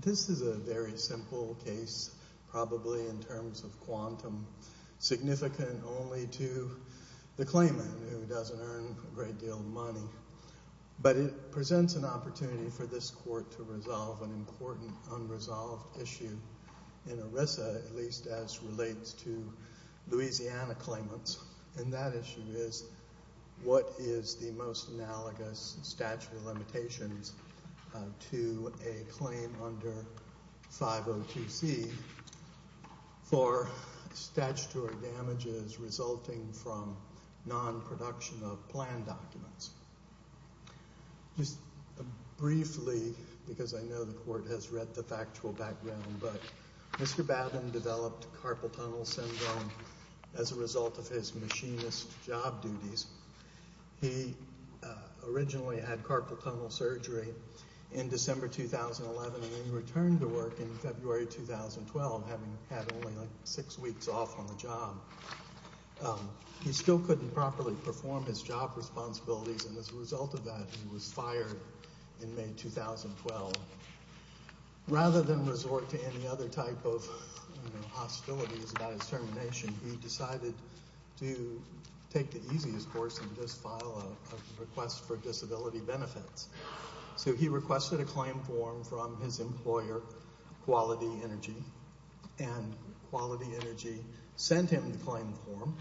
This is a very simple case, probably in terms of quantum, significant only to the claimant who doesn't earn a great deal of money, but it presents an opportunity for this Court to resolve an important unresolved issue in ERISA, at least as relates to Louisiana claimants. And that issue is, what is the most analogous statute of limitations to a claim under 502C for statutory damages resulting from non-production of plan documents? Just briefly, because I know the Court has read the factual background, but Mr. Babin developed carpal tunnel syndrome as a result of his machinist job duties. He originally had carpal tunnel surgery in December 2011 and then returned to work in February 2012, having had only like six weeks off on the job. He still couldn't properly perform his job responsibilities and as a result of that he was fired in May 2012. Rather than resort to any other type of hostilities about his termination, he decided to take the easiest course and just file a request for disability benefits. So he requested a claim form from his employer, Quality Energy, and Quality Energy sent him the claim form,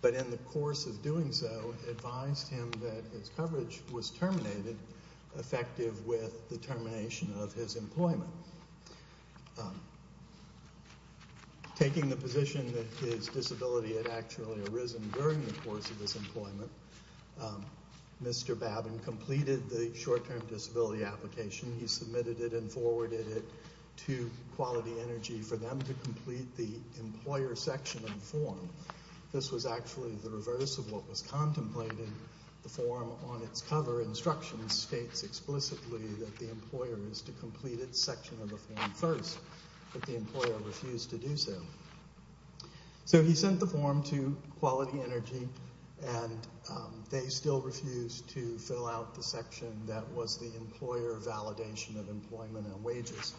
but in the course of doing so advised him that his coverage was terminated, effective with the termination of his employment. Taking the position that his disability had actually arisen during the course of his employment, Mr. Babin completed the short-term disability application. He submitted it and forwarded it to Quality Energy for them to complete the employer section of the form. This was actually the reverse of what was contemplated. The form on its cover instructions states explicitly that the employer is to complete its section of the form first, but the employer refused to do so. So he sent the form to Quality Energy and they still refused to fill out the section that was the employer validation of employment and wages.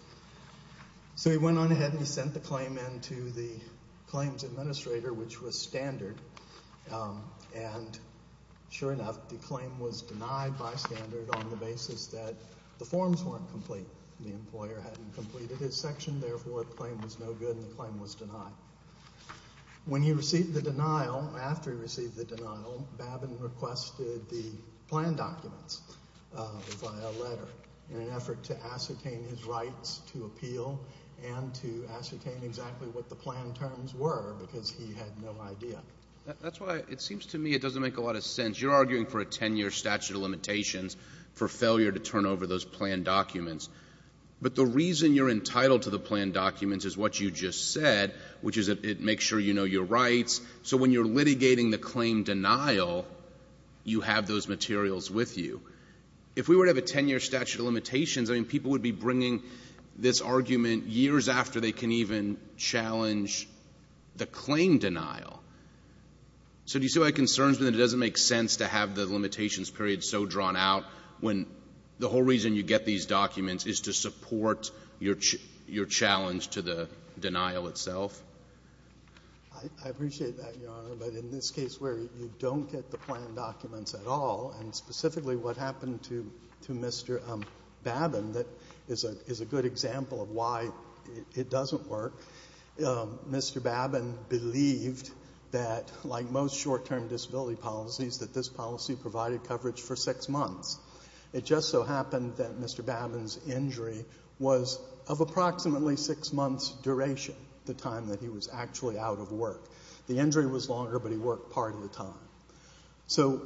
So he went on ahead and he sent the claim in to the claims administrator, which was standard, and sure enough the claim was denied by standard on the basis that the forms weren't complete. The employer hadn't completed his section, therefore the claim was no good and the claim was denied. When he received the denial, after he received the denial, Babin requested the plan documents via letter in an effort to ascertain his rights to appeal and to ascertain exactly what the plan terms were because he had no idea. That's why it seems to me it doesn't make a lot of sense. You're arguing for a 10-year statute of limitations for failure to turn over those plan documents, but the reason you're entitled to the plan documents is what you just said, which is it makes sure you know your rights. So when you're litigating the claim denial, you have those materials with you. If we were to have a 10-year statute of limitations, people would be bringing this argument years after they can even challenge the claim denial. So do you see why it concerns me that it doesn't make sense to have the limitations period so drawn out when the whole reason you get these documents is to support your challenge to the denial itself? I appreciate that, Your Honor, but in this case where you don't get the plan documents at all, and specifically what happened to Mr. Babin that is a good example of why it doesn't work, Mr. Babin believed that, like most short-term disability policies, that this policy provided coverage for six months. It just so happened that Mr. Babin's injury was of approximately six months' duration, the time that he was actually out of work. The injury was longer, but he worked part of the time. So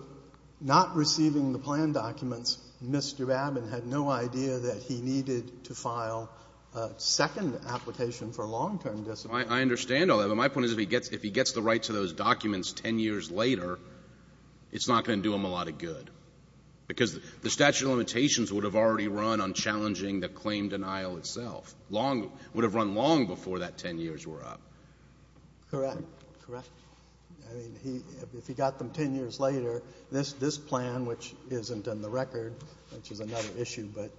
not receiving the plan documents, Mr. Babin had no idea that he needed to file a second application for long-term disability. I understand all that, but my point is if he gets the rights to those documents 10 years later, it's not going to do him a lot of good. Because the statute of limitations would have already run on challenging the claim denial itself. It would have run long before that 10 years were up. Correct, correct. If he got them 10 years later, this plan, which isn't in the record, which is another issue, but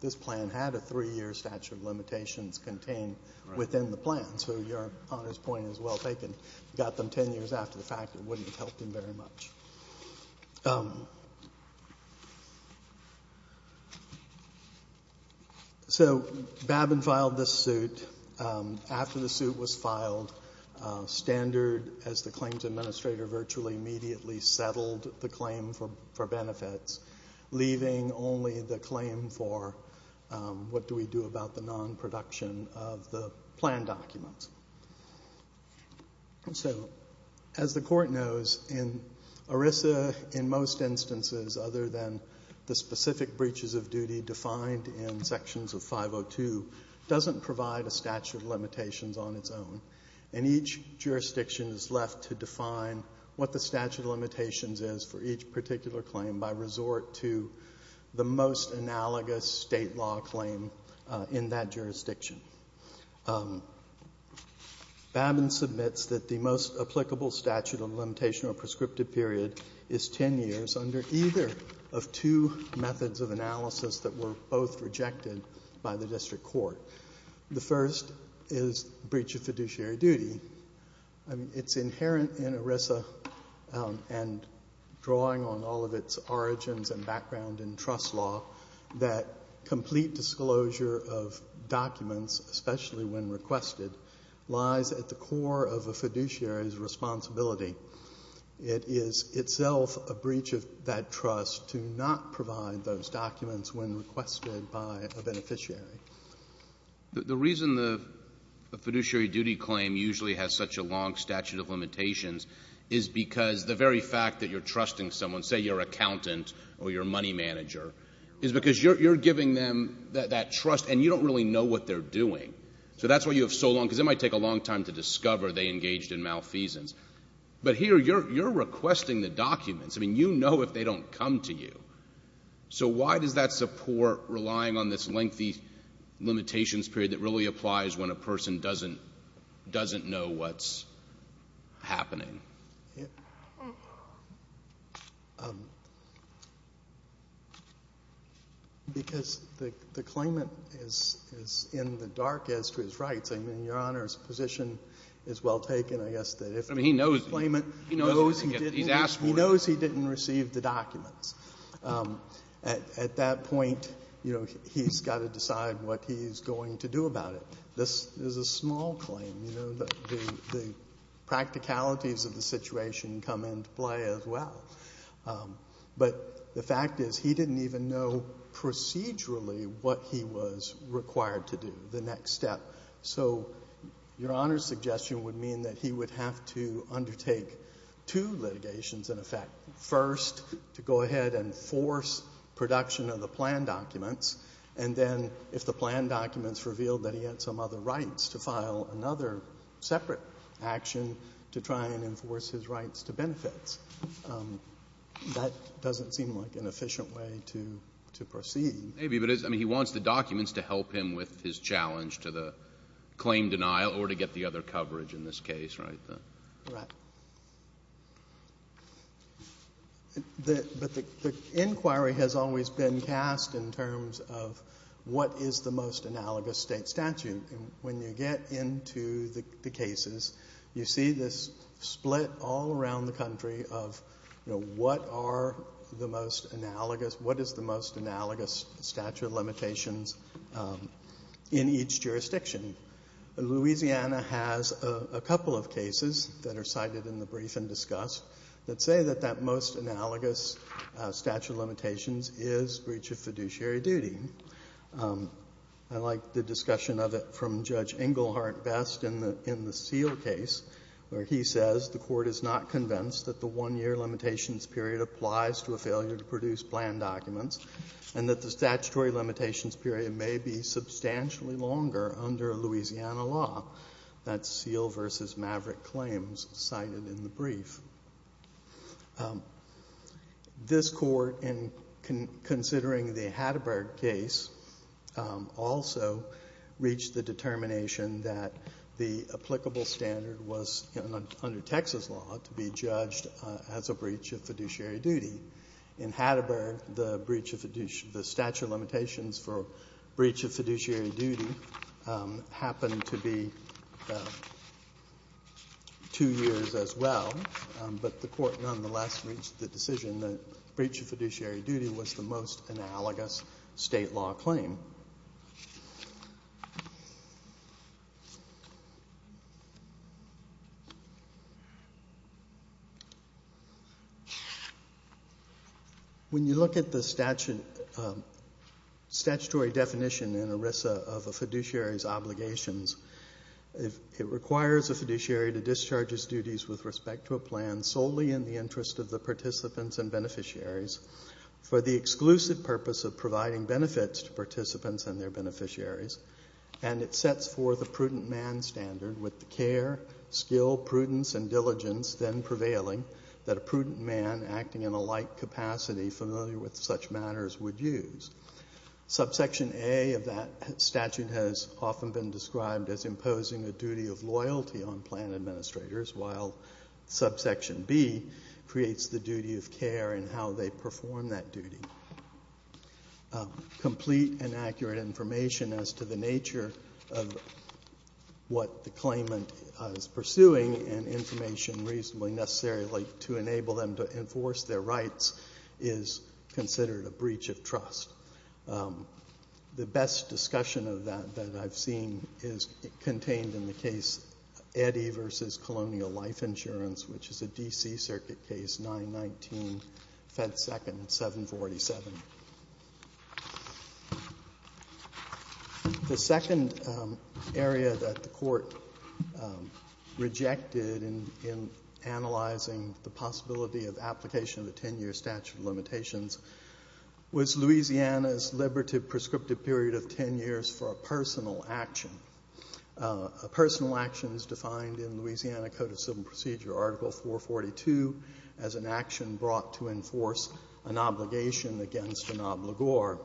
this plan had a three-year statute of limitations contained within the plan. So Your Honor's point is well taken. If he got them 10 years after the fact, it wouldn't have helped him very much. So Babin filed this suit. After the suit was filed, Standard, as the claims administrator, virtually immediately settled the claim for benefits, leaving only the claim for what do we do about the non-production of the plan documents. So as the Court knows, in ERISA, in most instances, other than the specific breaches of duty defined in sections of 502, doesn't provide a statute of limitations on its own. And each jurisdiction is left to define what the statute of limitations is for each particular claim by resort to the most analogous state law claim in that jurisdiction. Babin submits that the most applicable statute of limitation or prescriptive period is 10 years under either of two methods of analysis that were both rejected by the District Court. The first is breach of fiduciary duty. It's inherent in ERISA and drawing on all of its origins and background in trust law that complete disclosure of documents, especially when requested, lies at the core of a fiduciary's responsibility. It is itself a breach of that trust to not provide those documents when requested by a beneficiary. The reason the fiduciary duty claim usually has such a long statute of limitations is because the very fact that you're trusting someone, say your accountant or your money manager, is because you're giving them that trust and you don't really know what they're doing. So that's why you have so long, because it might take a long time to discover they engaged in malfeasance. But here, you're requesting the documents. I mean, you know if they don't come to you. So why does that support relying on this lengthy limitations period when it really applies when a person doesn't know what's happening? Because the claimant is in the dark as to his rights. I mean, Your Honor's position is well taken. I guess that if the claimant knows he didn't receive the documents, at that point, he's got to decide what he's going to do about it. This is a small claim. The practicalities of the situation come into play as well. But the fact is he didn't even know procedurally what he was required to do, the next step. So Your Honor's suggestion would mean that he would have to undertake two litigations in effect. First, to go ahead and force production of the plan documents. And then, if the plan documents revealed that he had some other rights, to file another separate action to try and enforce his rights to benefits. That doesn't seem like an efficient way to proceed. Maybe, but he wants the documents to help him with his challenge to the claim denial or to get the other coverage in this case, right? Correct. But the inquiry has always been cast in terms of what is the most analogous state statute. When you get into the cases, you see this split all around the country of what is the most analogous statute of limitations in each jurisdiction. Louisiana has a couple of cases that are cited in the brief and discussed that say that that most analogous statute of limitations is breach of fiduciary duty. I like the discussion of it from Judge Englehart Best in the Seale case, where he says the Court is not convinced that the one-year limitations period applies to a failure to produce plan documents, and that the statutory limitations period may be substantially longer under Louisiana law. That's Seale v. Maverick claims cited in the brief. This Court, in considering the Hatterberg case, also reached the determination that the applicable standard was, under Texas law, to be judged as a breach of fiduciary duty. In Hatterberg, the statute of limitations for breach of fiduciary duty happened to be two years as well, but the Court nonetheless reached the decision that breach of fiduciary duty was the most analogous state law claim. When you look at the statutory definition in ERISA of a fiduciary's obligations, it requires a fiduciary to discharge his duties with respect to a plan solely in the interest of the participants and beneficiaries for the exclusive purpose of providing benefits to participants and their beneficiaries, and it sets forth a prudent man standard with the care, skill, prudence, and diligence then prevailing that a prudent man acting in a like capacity familiar with such matters would use. Subsection A of that statute has often been described as imposing a duty of loyalty on plan administrators, while subsection B creates the duty of care in how they perform that duty. Complete and accurate information as to the nature of what the claimant is pursuing and information reasonably necessary to enable them to enforce their rights is considered a breach of trust. The best discussion of that that I've seen is contained in the case Eddy v. Colonial Life Insurance, which is a D.C. Circuit case, 919, Fed 2nd, 747. The second area that the court rejected in analyzing the possibility of application of a 10-year statute of limitations was Louisiana's liberative prescriptive period of 10 years for a personal action. A personal action is defined in Louisiana Code of Civil Procedure, Article 442, as an action brought to enforce an obligation against an obligor.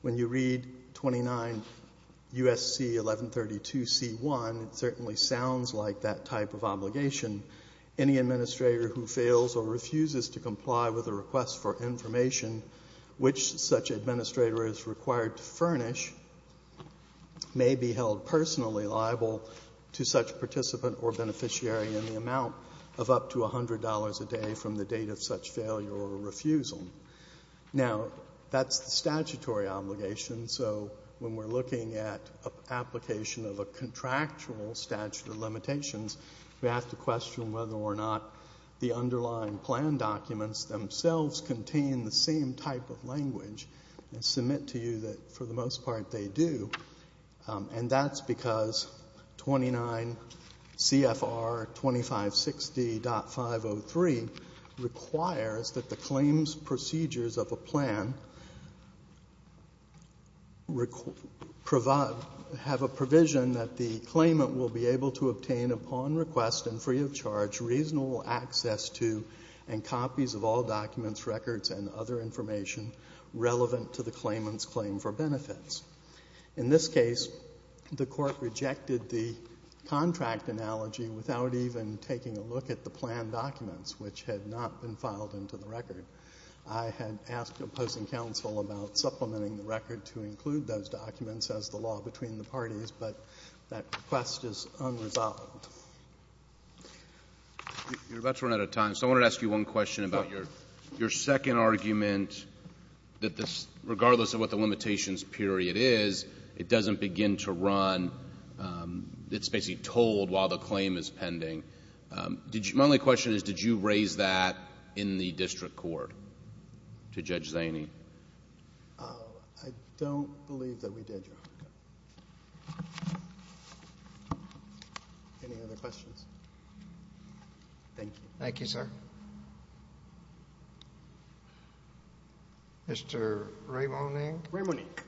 When you read 29 U.S.C. 1132c1, it certainly sounds like that type of obligation. Any administrator who fails or refuses to comply with a request for information which such administrator is required to furnish may be held personally liable to such participant or beneficiary in the amount of up to $100 a day from the date of such failure or refusal. Now, that's the statutory obligation, so when we're looking at application of a contractual statute of limitations, we have to question whether or not the underlying plan documents themselves contain the same type of language and submit to you that, for the most part, they do. And that's because 29 CFR 2560.503 requires that the claims procedures of a plan have a provision that the claimant will be able to obtain, upon request and free of charge, reasonable access to and copies of all documents, records, and other information relevant to the claimant's claim for benefits. In this case, the Court rejected the contract analogy without even taking a look at the plan documents, which had not been filed into the record. I had asked opposing counsel about supplementing the record to include those documents as the law between the parties, but that request is unresolved. You're about to run out of time, so I wanted to ask you one question about your second argument that regardless of what the limitations period is, it doesn't begin to run. It's basically told while the claim is pending. My only question is, did you raise that in the district court to Judge Zaney? I don't believe that we did, Your Honor. Any other questions? Thank you. Mr. Raymonique. Raymonique.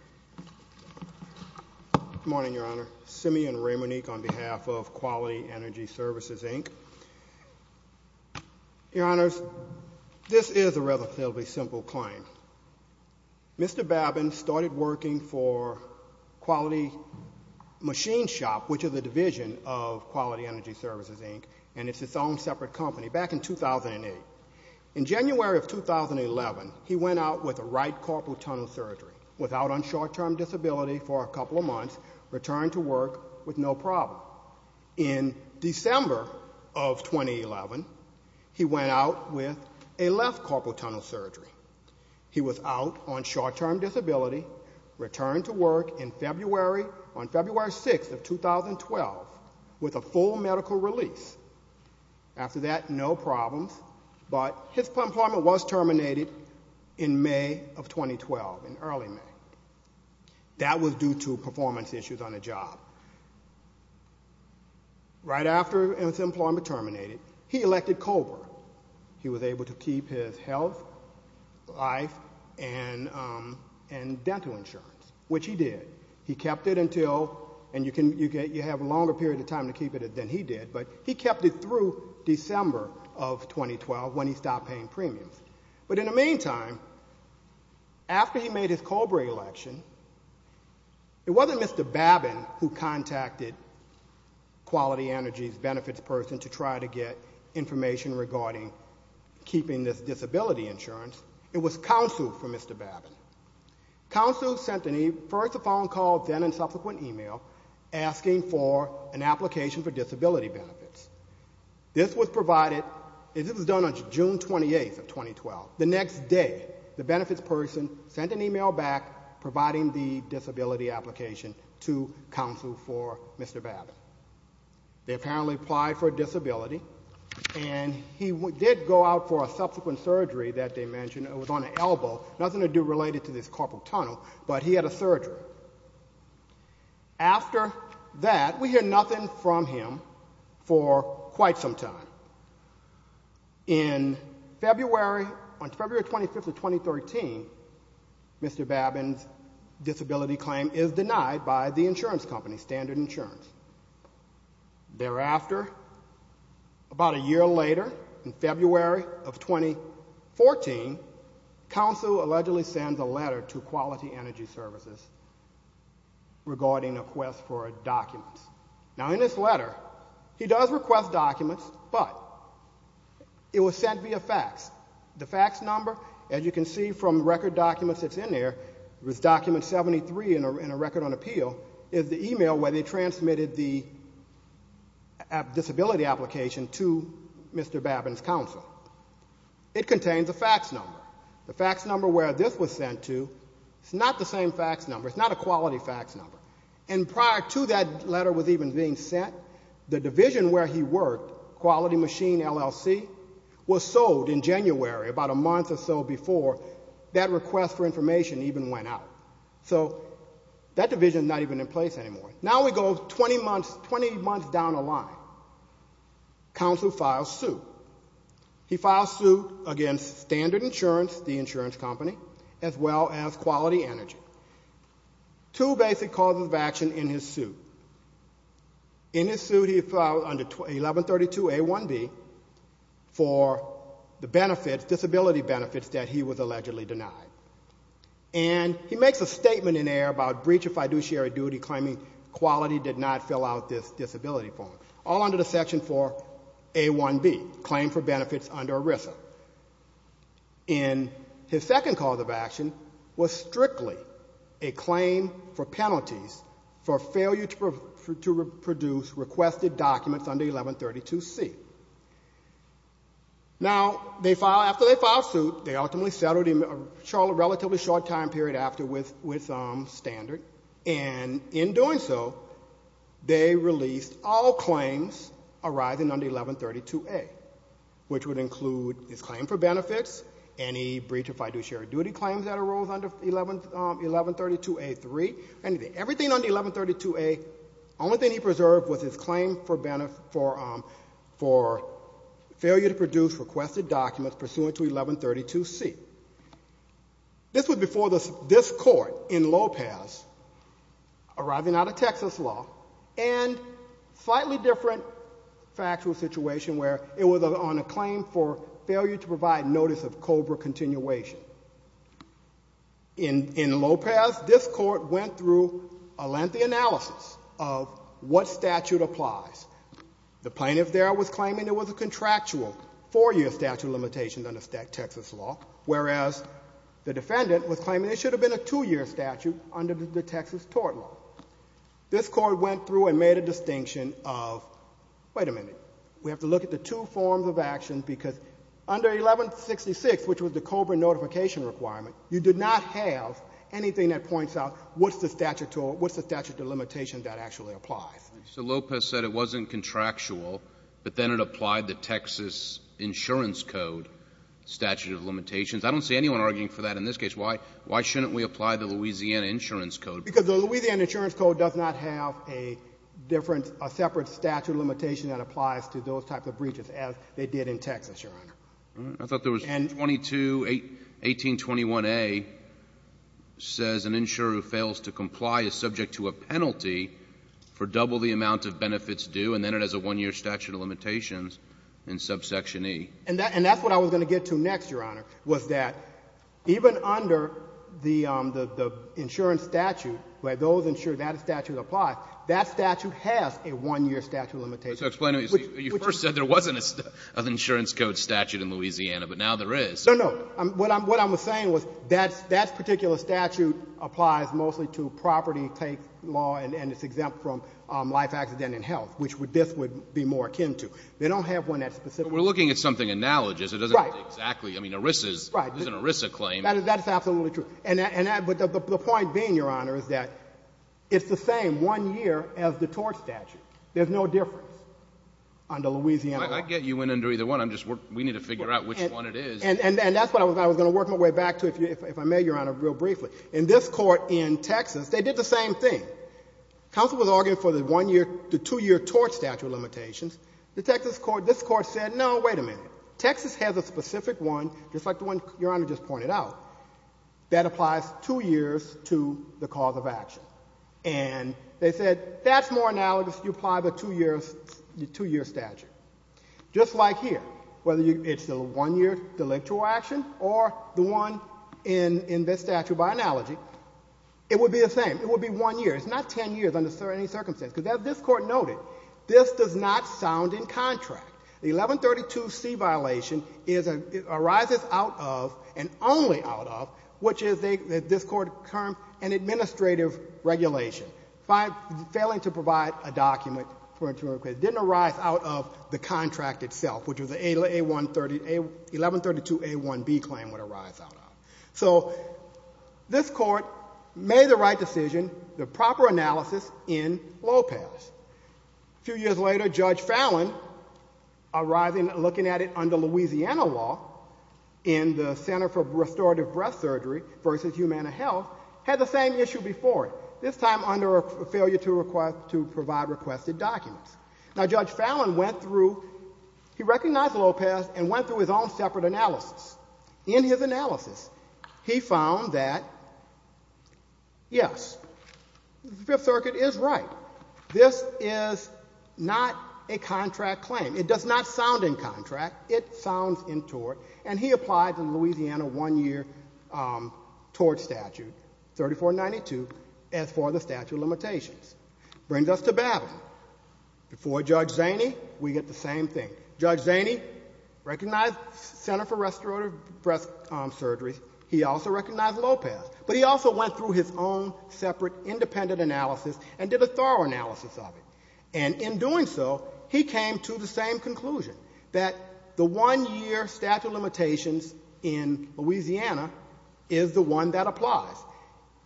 Good morning, Your Honor. Simeon Raymonique on behalf of Quality Energy Services, Inc. Your Honors, this is a relatively simple claim. Mr. Babin started working for Quality Machine Shop, which is a division of Quality Energy Services, Inc., and it's its own separate company, back in 2008. In January of 2011, he went out with a right corporal tunnel surgery, was out on short-term disability for a couple of months, returned to work with no problem. In December of 2011, he went out with a left corporal tunnel surgery. He was out on short-term disability, returned to work on February 6th of 2012 with a full medical release. After that, no problems, but his employment was terminated in May of 2012, in early May. That was due to performance issues on the job. Right after his employment terminated, he elected COBRA. He was able to keep his health, life, and dental insurance, which he did. He kept it until, and you have a longer period of time to keep it than he did, but he kept it through December of 2012 when he stopped paying premiums. But in the meantime, after he made his COBRA election, it wasn't Mr. Babin who contacted Quality Energy's benefits person to try to get information regarding keeping this disability insurance. It was counsel for Mr. Babin. Counsel sent first a phone call, then a subsequent email, asking for an application for disability benefits. This was provided, and this was done on June 28th of 2012. The next day, the benefits person sent an email back providing the disability application to counsel for Mr. Babin. They apparently applied for a disability, and he did go out for a subsequent surgery that they mentioned. It was on an elbow, nothing to do related to this corporal tunnel, but he had a surgery. After that, we hear nothing from him for quite some time. In February, on February 25th of 2013, Mr. Babin's disability claim is denied by the insurance company, Standard Insurance. Thereafter, about a year later, in February of 2014, counsel allegedly sends a letter to Quality Energy Services regarding a quest for documents. Now, in this letter, he does request documents, but it was sent via fax. The fax number, as you can see from record documents that's in there, it was document 73 in a record on appeal, is the email where they transmitted the disability application to Mr. Babin's counsel. It contains a fax number. The fax number where this was sent to is not the same fax number. It's not a quality fax number. And prior to that letter was even being sent, the division where he worked, Quality Machine, LLC, was sold in January, about a month or so before that request for information even went out. So that division is not even in place anymore. Now we go 20 months down the line. Counsel files suit. He files suit against Standard Insurance, the insurance company, as well as Quality Energy. Two basic causes of action in his suit. In his suit, he filed under 1132A1B for the benefits, disability benefits, that he was allegedly denied. And he makes a statement in there about breach of fiduciary duty, claiming Quality did not fill out this disability form. All under the section for A1B, claim for benefits under ERISA. And his second cause of action was strictly a claim for penalties for failure to produce requested documents under 1132C. Now, after they filed suit, they ultimately settled a relatively short time period after with Standard. And in doing so, they released all claims arising under 1132A, which would include his claim for benefits, any breach of fiduciary duty claims that arose under 1132A3, anything. Everything under 1132A, only thing he preserved was his claim for benefit, for failure to produce requested documents pursuant to 1132C. This was before this court in Lopez, arising out of Texas law, and slightly different factual situation where it was on a claim for failure to provide notice of COBRA continuation. In Lopez, this court went through a lengthy analysis of what statute applies. The plaintiff there was claiming there was a contractual four-year statute of limitations under Texas law, whereas the defendant was claiming there should have been a two-year statute under the Texas tort law. This court went through and made a distinction of, wait a minute, we have to look at the two forms of action because under 1166, which was the COBRA notification requirement, you did not have anything that points out what's the statute of limitations that actually applies. Mr. Lopez said it wasn't contractual, but then it applied the Texas insurance code statute of limitations. I don't see anyone arguing for that in this case. Why shouldn't we apply the Louisiana insurance code? Because the Louisiana insurance code does not have a different, a separate statute of limitation that applies to those types of breaches as they did in Texas, Your Honor. I thought there was 22, 1821A says an insurer who fails to comply is subject to a penalty for double the amount of benefits due, and then it has a one-year statute of limitations in subsection E. And that's what I was going to get to next, Your Honor, was that even under the insurance statute, that statute applies. That statute has a one-year statute of limitations. So explain to me. You first said there wasn't an insurance code statute in Louisiana, but now there is. No, no. What I'm saying was that that particular statute applies mostly to property tax law and it's exempt from life, accident, and health, which this would be more akin to. They don't have one that's specific. But we're looking at something analogous. Right. It doesn't have to be exactly. I mean, ERISA's, there's an ERISA claim. That is absolutely true. The point being, Your Honor, is that it's the same one year as the tort statute. There's no difference under Louisiana law. I get you in under either one. We need to figure out which one it is. And that's what I was going to work my way back to if I may, Your Honor, real briefly. In this court in Texas, they did the same thing. Counsel was arguing for the one-year to two-year tort statute limitations. The Texas court, this court said, no, wait a minute. Texas has a specific one, just like the one Your Honor just pointed out, that applies two years to the cause of action. And they said, that's more analogous. You apply the two-year statute. Just like here, whether it's the one-year delictual action or the one in this statute by analogy, it would be the same. It would be one year. It's not 10 years under any circumstance. Because as this court noted, this does not sound in contract. The 1132C violation arises out of and only out of, which is this court's term, an administrative regulation. Failing to provide a document for a term of claim didn't arise out of the contract itself, which is the 1132A1B claim would arise out of. So this court made the right decision, the proper analysis in Lopez. A few years later, Judge Fallon, looking at it under Louisiana law, in the Center for Restorative Breast Surgery versus Humana Health, had the same issue before it, this time under a failure to provide requested documents. Now, Judge Fallon went through, he recognized Lopez and went through his own separate analysis. In his analysis, he found that, yes, the Fifth Circuit is right. This is not a contract claim. It does not sound in contract. It sounds in tort. And he applied the Louisiana one-year tort statute, 3492, as for the statute of limitations. Brings us to battle. Before Judge Zaney, we get the same thing. Judge Zaney recognized Center for Restorative Breast Surgery. He also recognized Lopez. But he also went through his own separate independent analysis and did a thorough analysis of it. And in doing so, he came to the same conclusion, that the one-year statute of limitations in Louisiana is the one that applies.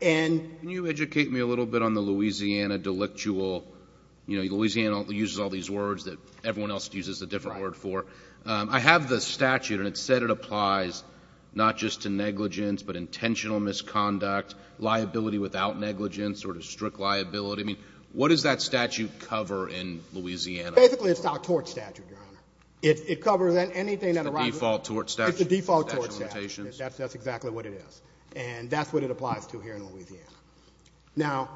And you educate me a little bit on the Louisiana delictual, you know, Louisiana uses all these words that everyone else uses a different word for. I have the statute, and it said it applies not just to negligence, but intentional misconduct, liability without negligence, sort of strict liability. I mean, what does that statute cover in Louisiana? Basically, it's our tort statute, Your Honor. It covers anything that arises. It's the default tort statute. It's the default tort statute. Statute of limitations. And that's what it applies to here in Louisiana. Now,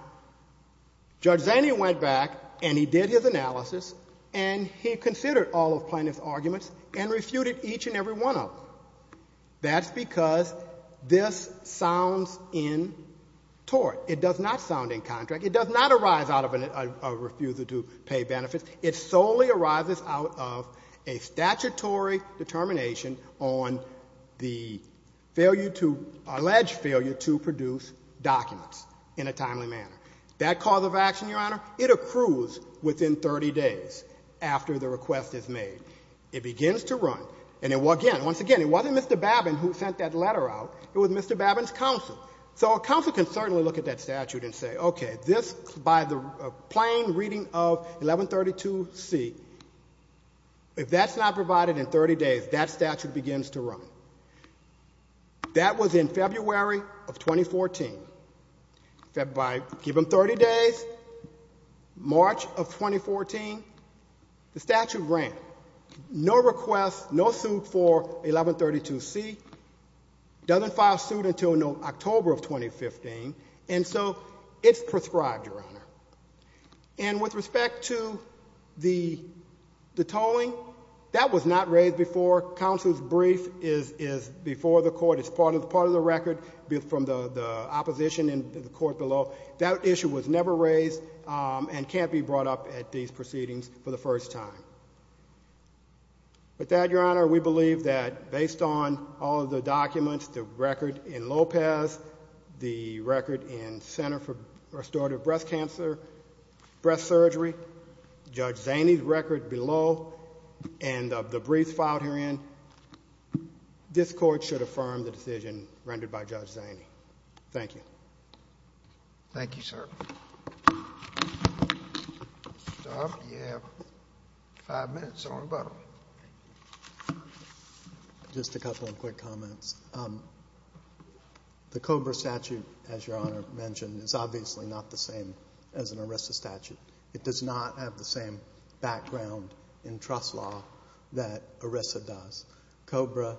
Judge Zaney went back, and he did his analysis, and he considered all of Plaintiff's arguments and refuted each and every one of them. That's because this sounds in tort. It does not sound in contract. It does not arise out of a refusal to pay benefits. It solely arises out of a statutory determination on the alleged failure to produce documents in a timely manner. That cause of action, Your Honor, it accrues within 30 days after the request is made. It begins to run. And, again, once again, it wasn't Mr. Babin who sent that letter out. It was Mr. Babin's counsel. So a counsel can certainly look at that statute and say, okay, this, by the plain reading of 1132C, if that's not provided in 30 days, that statute begins to run. That was in February of 2014. By, give them 30 days, March of 2014, the statute ran. No request, no suit for 1132C. Doesn't file suit until October of 2015. And so it's prescribed, Your Honor. And with respect to the tolling, that was not raised before. Counsel's brief is before the court. It's part of the record from the opposition in the court below. That issue was never raised and can't be brought up at these proceedings for the first time. With that, Your Honor, we believe that based on all of the documents, the record in Lopez, the record in Center for Restorative Breast Cancer, breast surgery, Judge Zaney's record below, and of the briefs filed herein, this court should affirm the decision rendered by Judge Zaney. Thank you. Thank you, sir. Stop. You have five minutes on the button. Just a couple of quick comments. The COBRA statute, as Your Honor mentioned, is obviously not the same as an ERISA statute. It does not have the same background in trust law that ERISA does. COBRA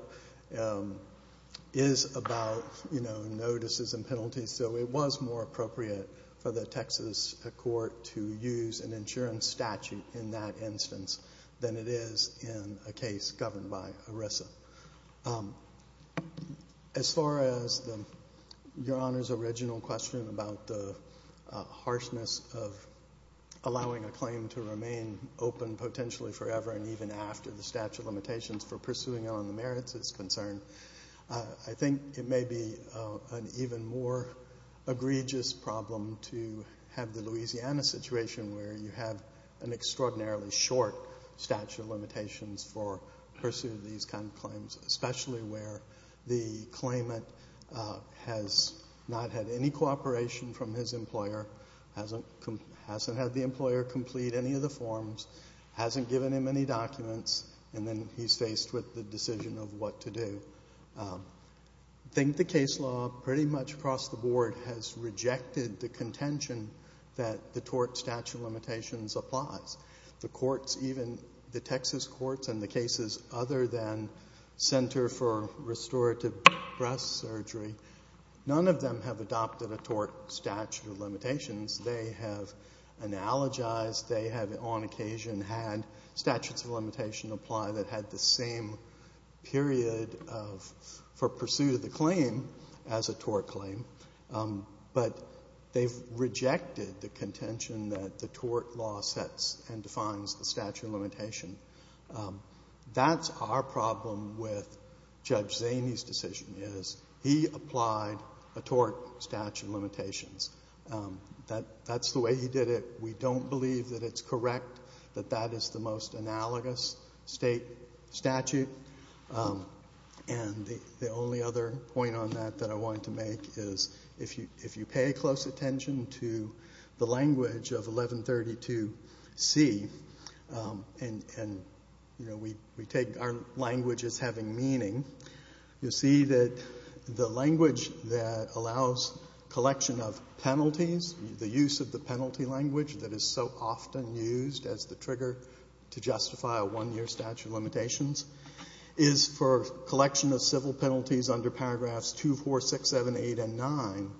is about, you know, notices and penalties, so it was more appropriate for the Texas court to use an insurance statute in that instance than it is in a case governed by ERISA. As far as Your Honor's original question about the harshness of allowing a claim to remain open potentially forever and even after the statute of limitations for pursuing it on the merits is concerned, I think it may be an even more egregious problem to have the Louisiana situation where you have an extraordinarily short statute of limitations for pursuing these kinds of claims, especially where the claimant has not had any cooperation from his employer, hasn't had the employer complete any of the forms, hasn't given him any documents, and then he's faced with the decision of what to do. I think the case law pretty much across the board has rejected the contention that the tort statute of limitations applies. The courts, even the Texas courts and the cases other than Center for Restorative Breast Surgery, none of them have adopted a tort statute of limitations. They have analogized, they have on occasion had statutes of limitation apply that had the same period for pursuit of the claim as a tort claim, but they've rejected the contention that the tort law sets and defines the statute of limitation. That's our problem with Judge Zaney's decision is he applied a tort statute of limitations. That's the way he did it. We don't believe that it's correct, that that is the most analogous state statute, and the only other point on that that I wanted to make is if you pay close attention to the language of 1132C, and we take our language as having meaning, you'll see that the language that allows collection of penalties, the use of the penalty language that is so often used as the trigger to justify a one-year statute of limitations, is for collection of civil penalties under paragraphs 2, 4, 6, 7, 8, and 9.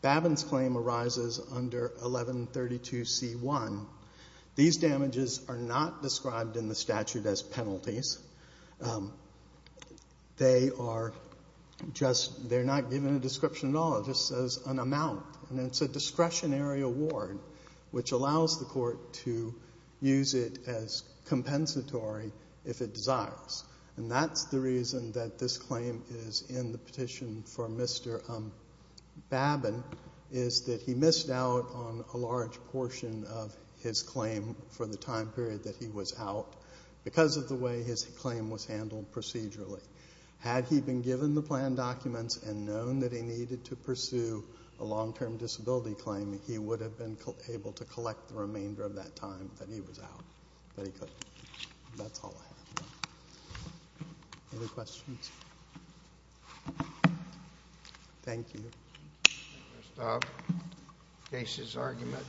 Babin's claim arises under 1132C1. These damages are not described in the statute as penalties. They are just, they're not given a description at all. It just says an amount, and it's a discretionary award, which allows the court to use it as compensatory if it desires, and that's the reason that this claim is in the petition for Mr. Babin is that he missed out on a large portion of his claim for the time period that he was out because of the way his claim was handled procedurally. Had he been given the plan documents and known that he needed to pursue a long-term disability claim, he would have been able to collect the remainder of that time that he was out, but he couldn't. That's all I have. Any questions? Thank you. Case is argument.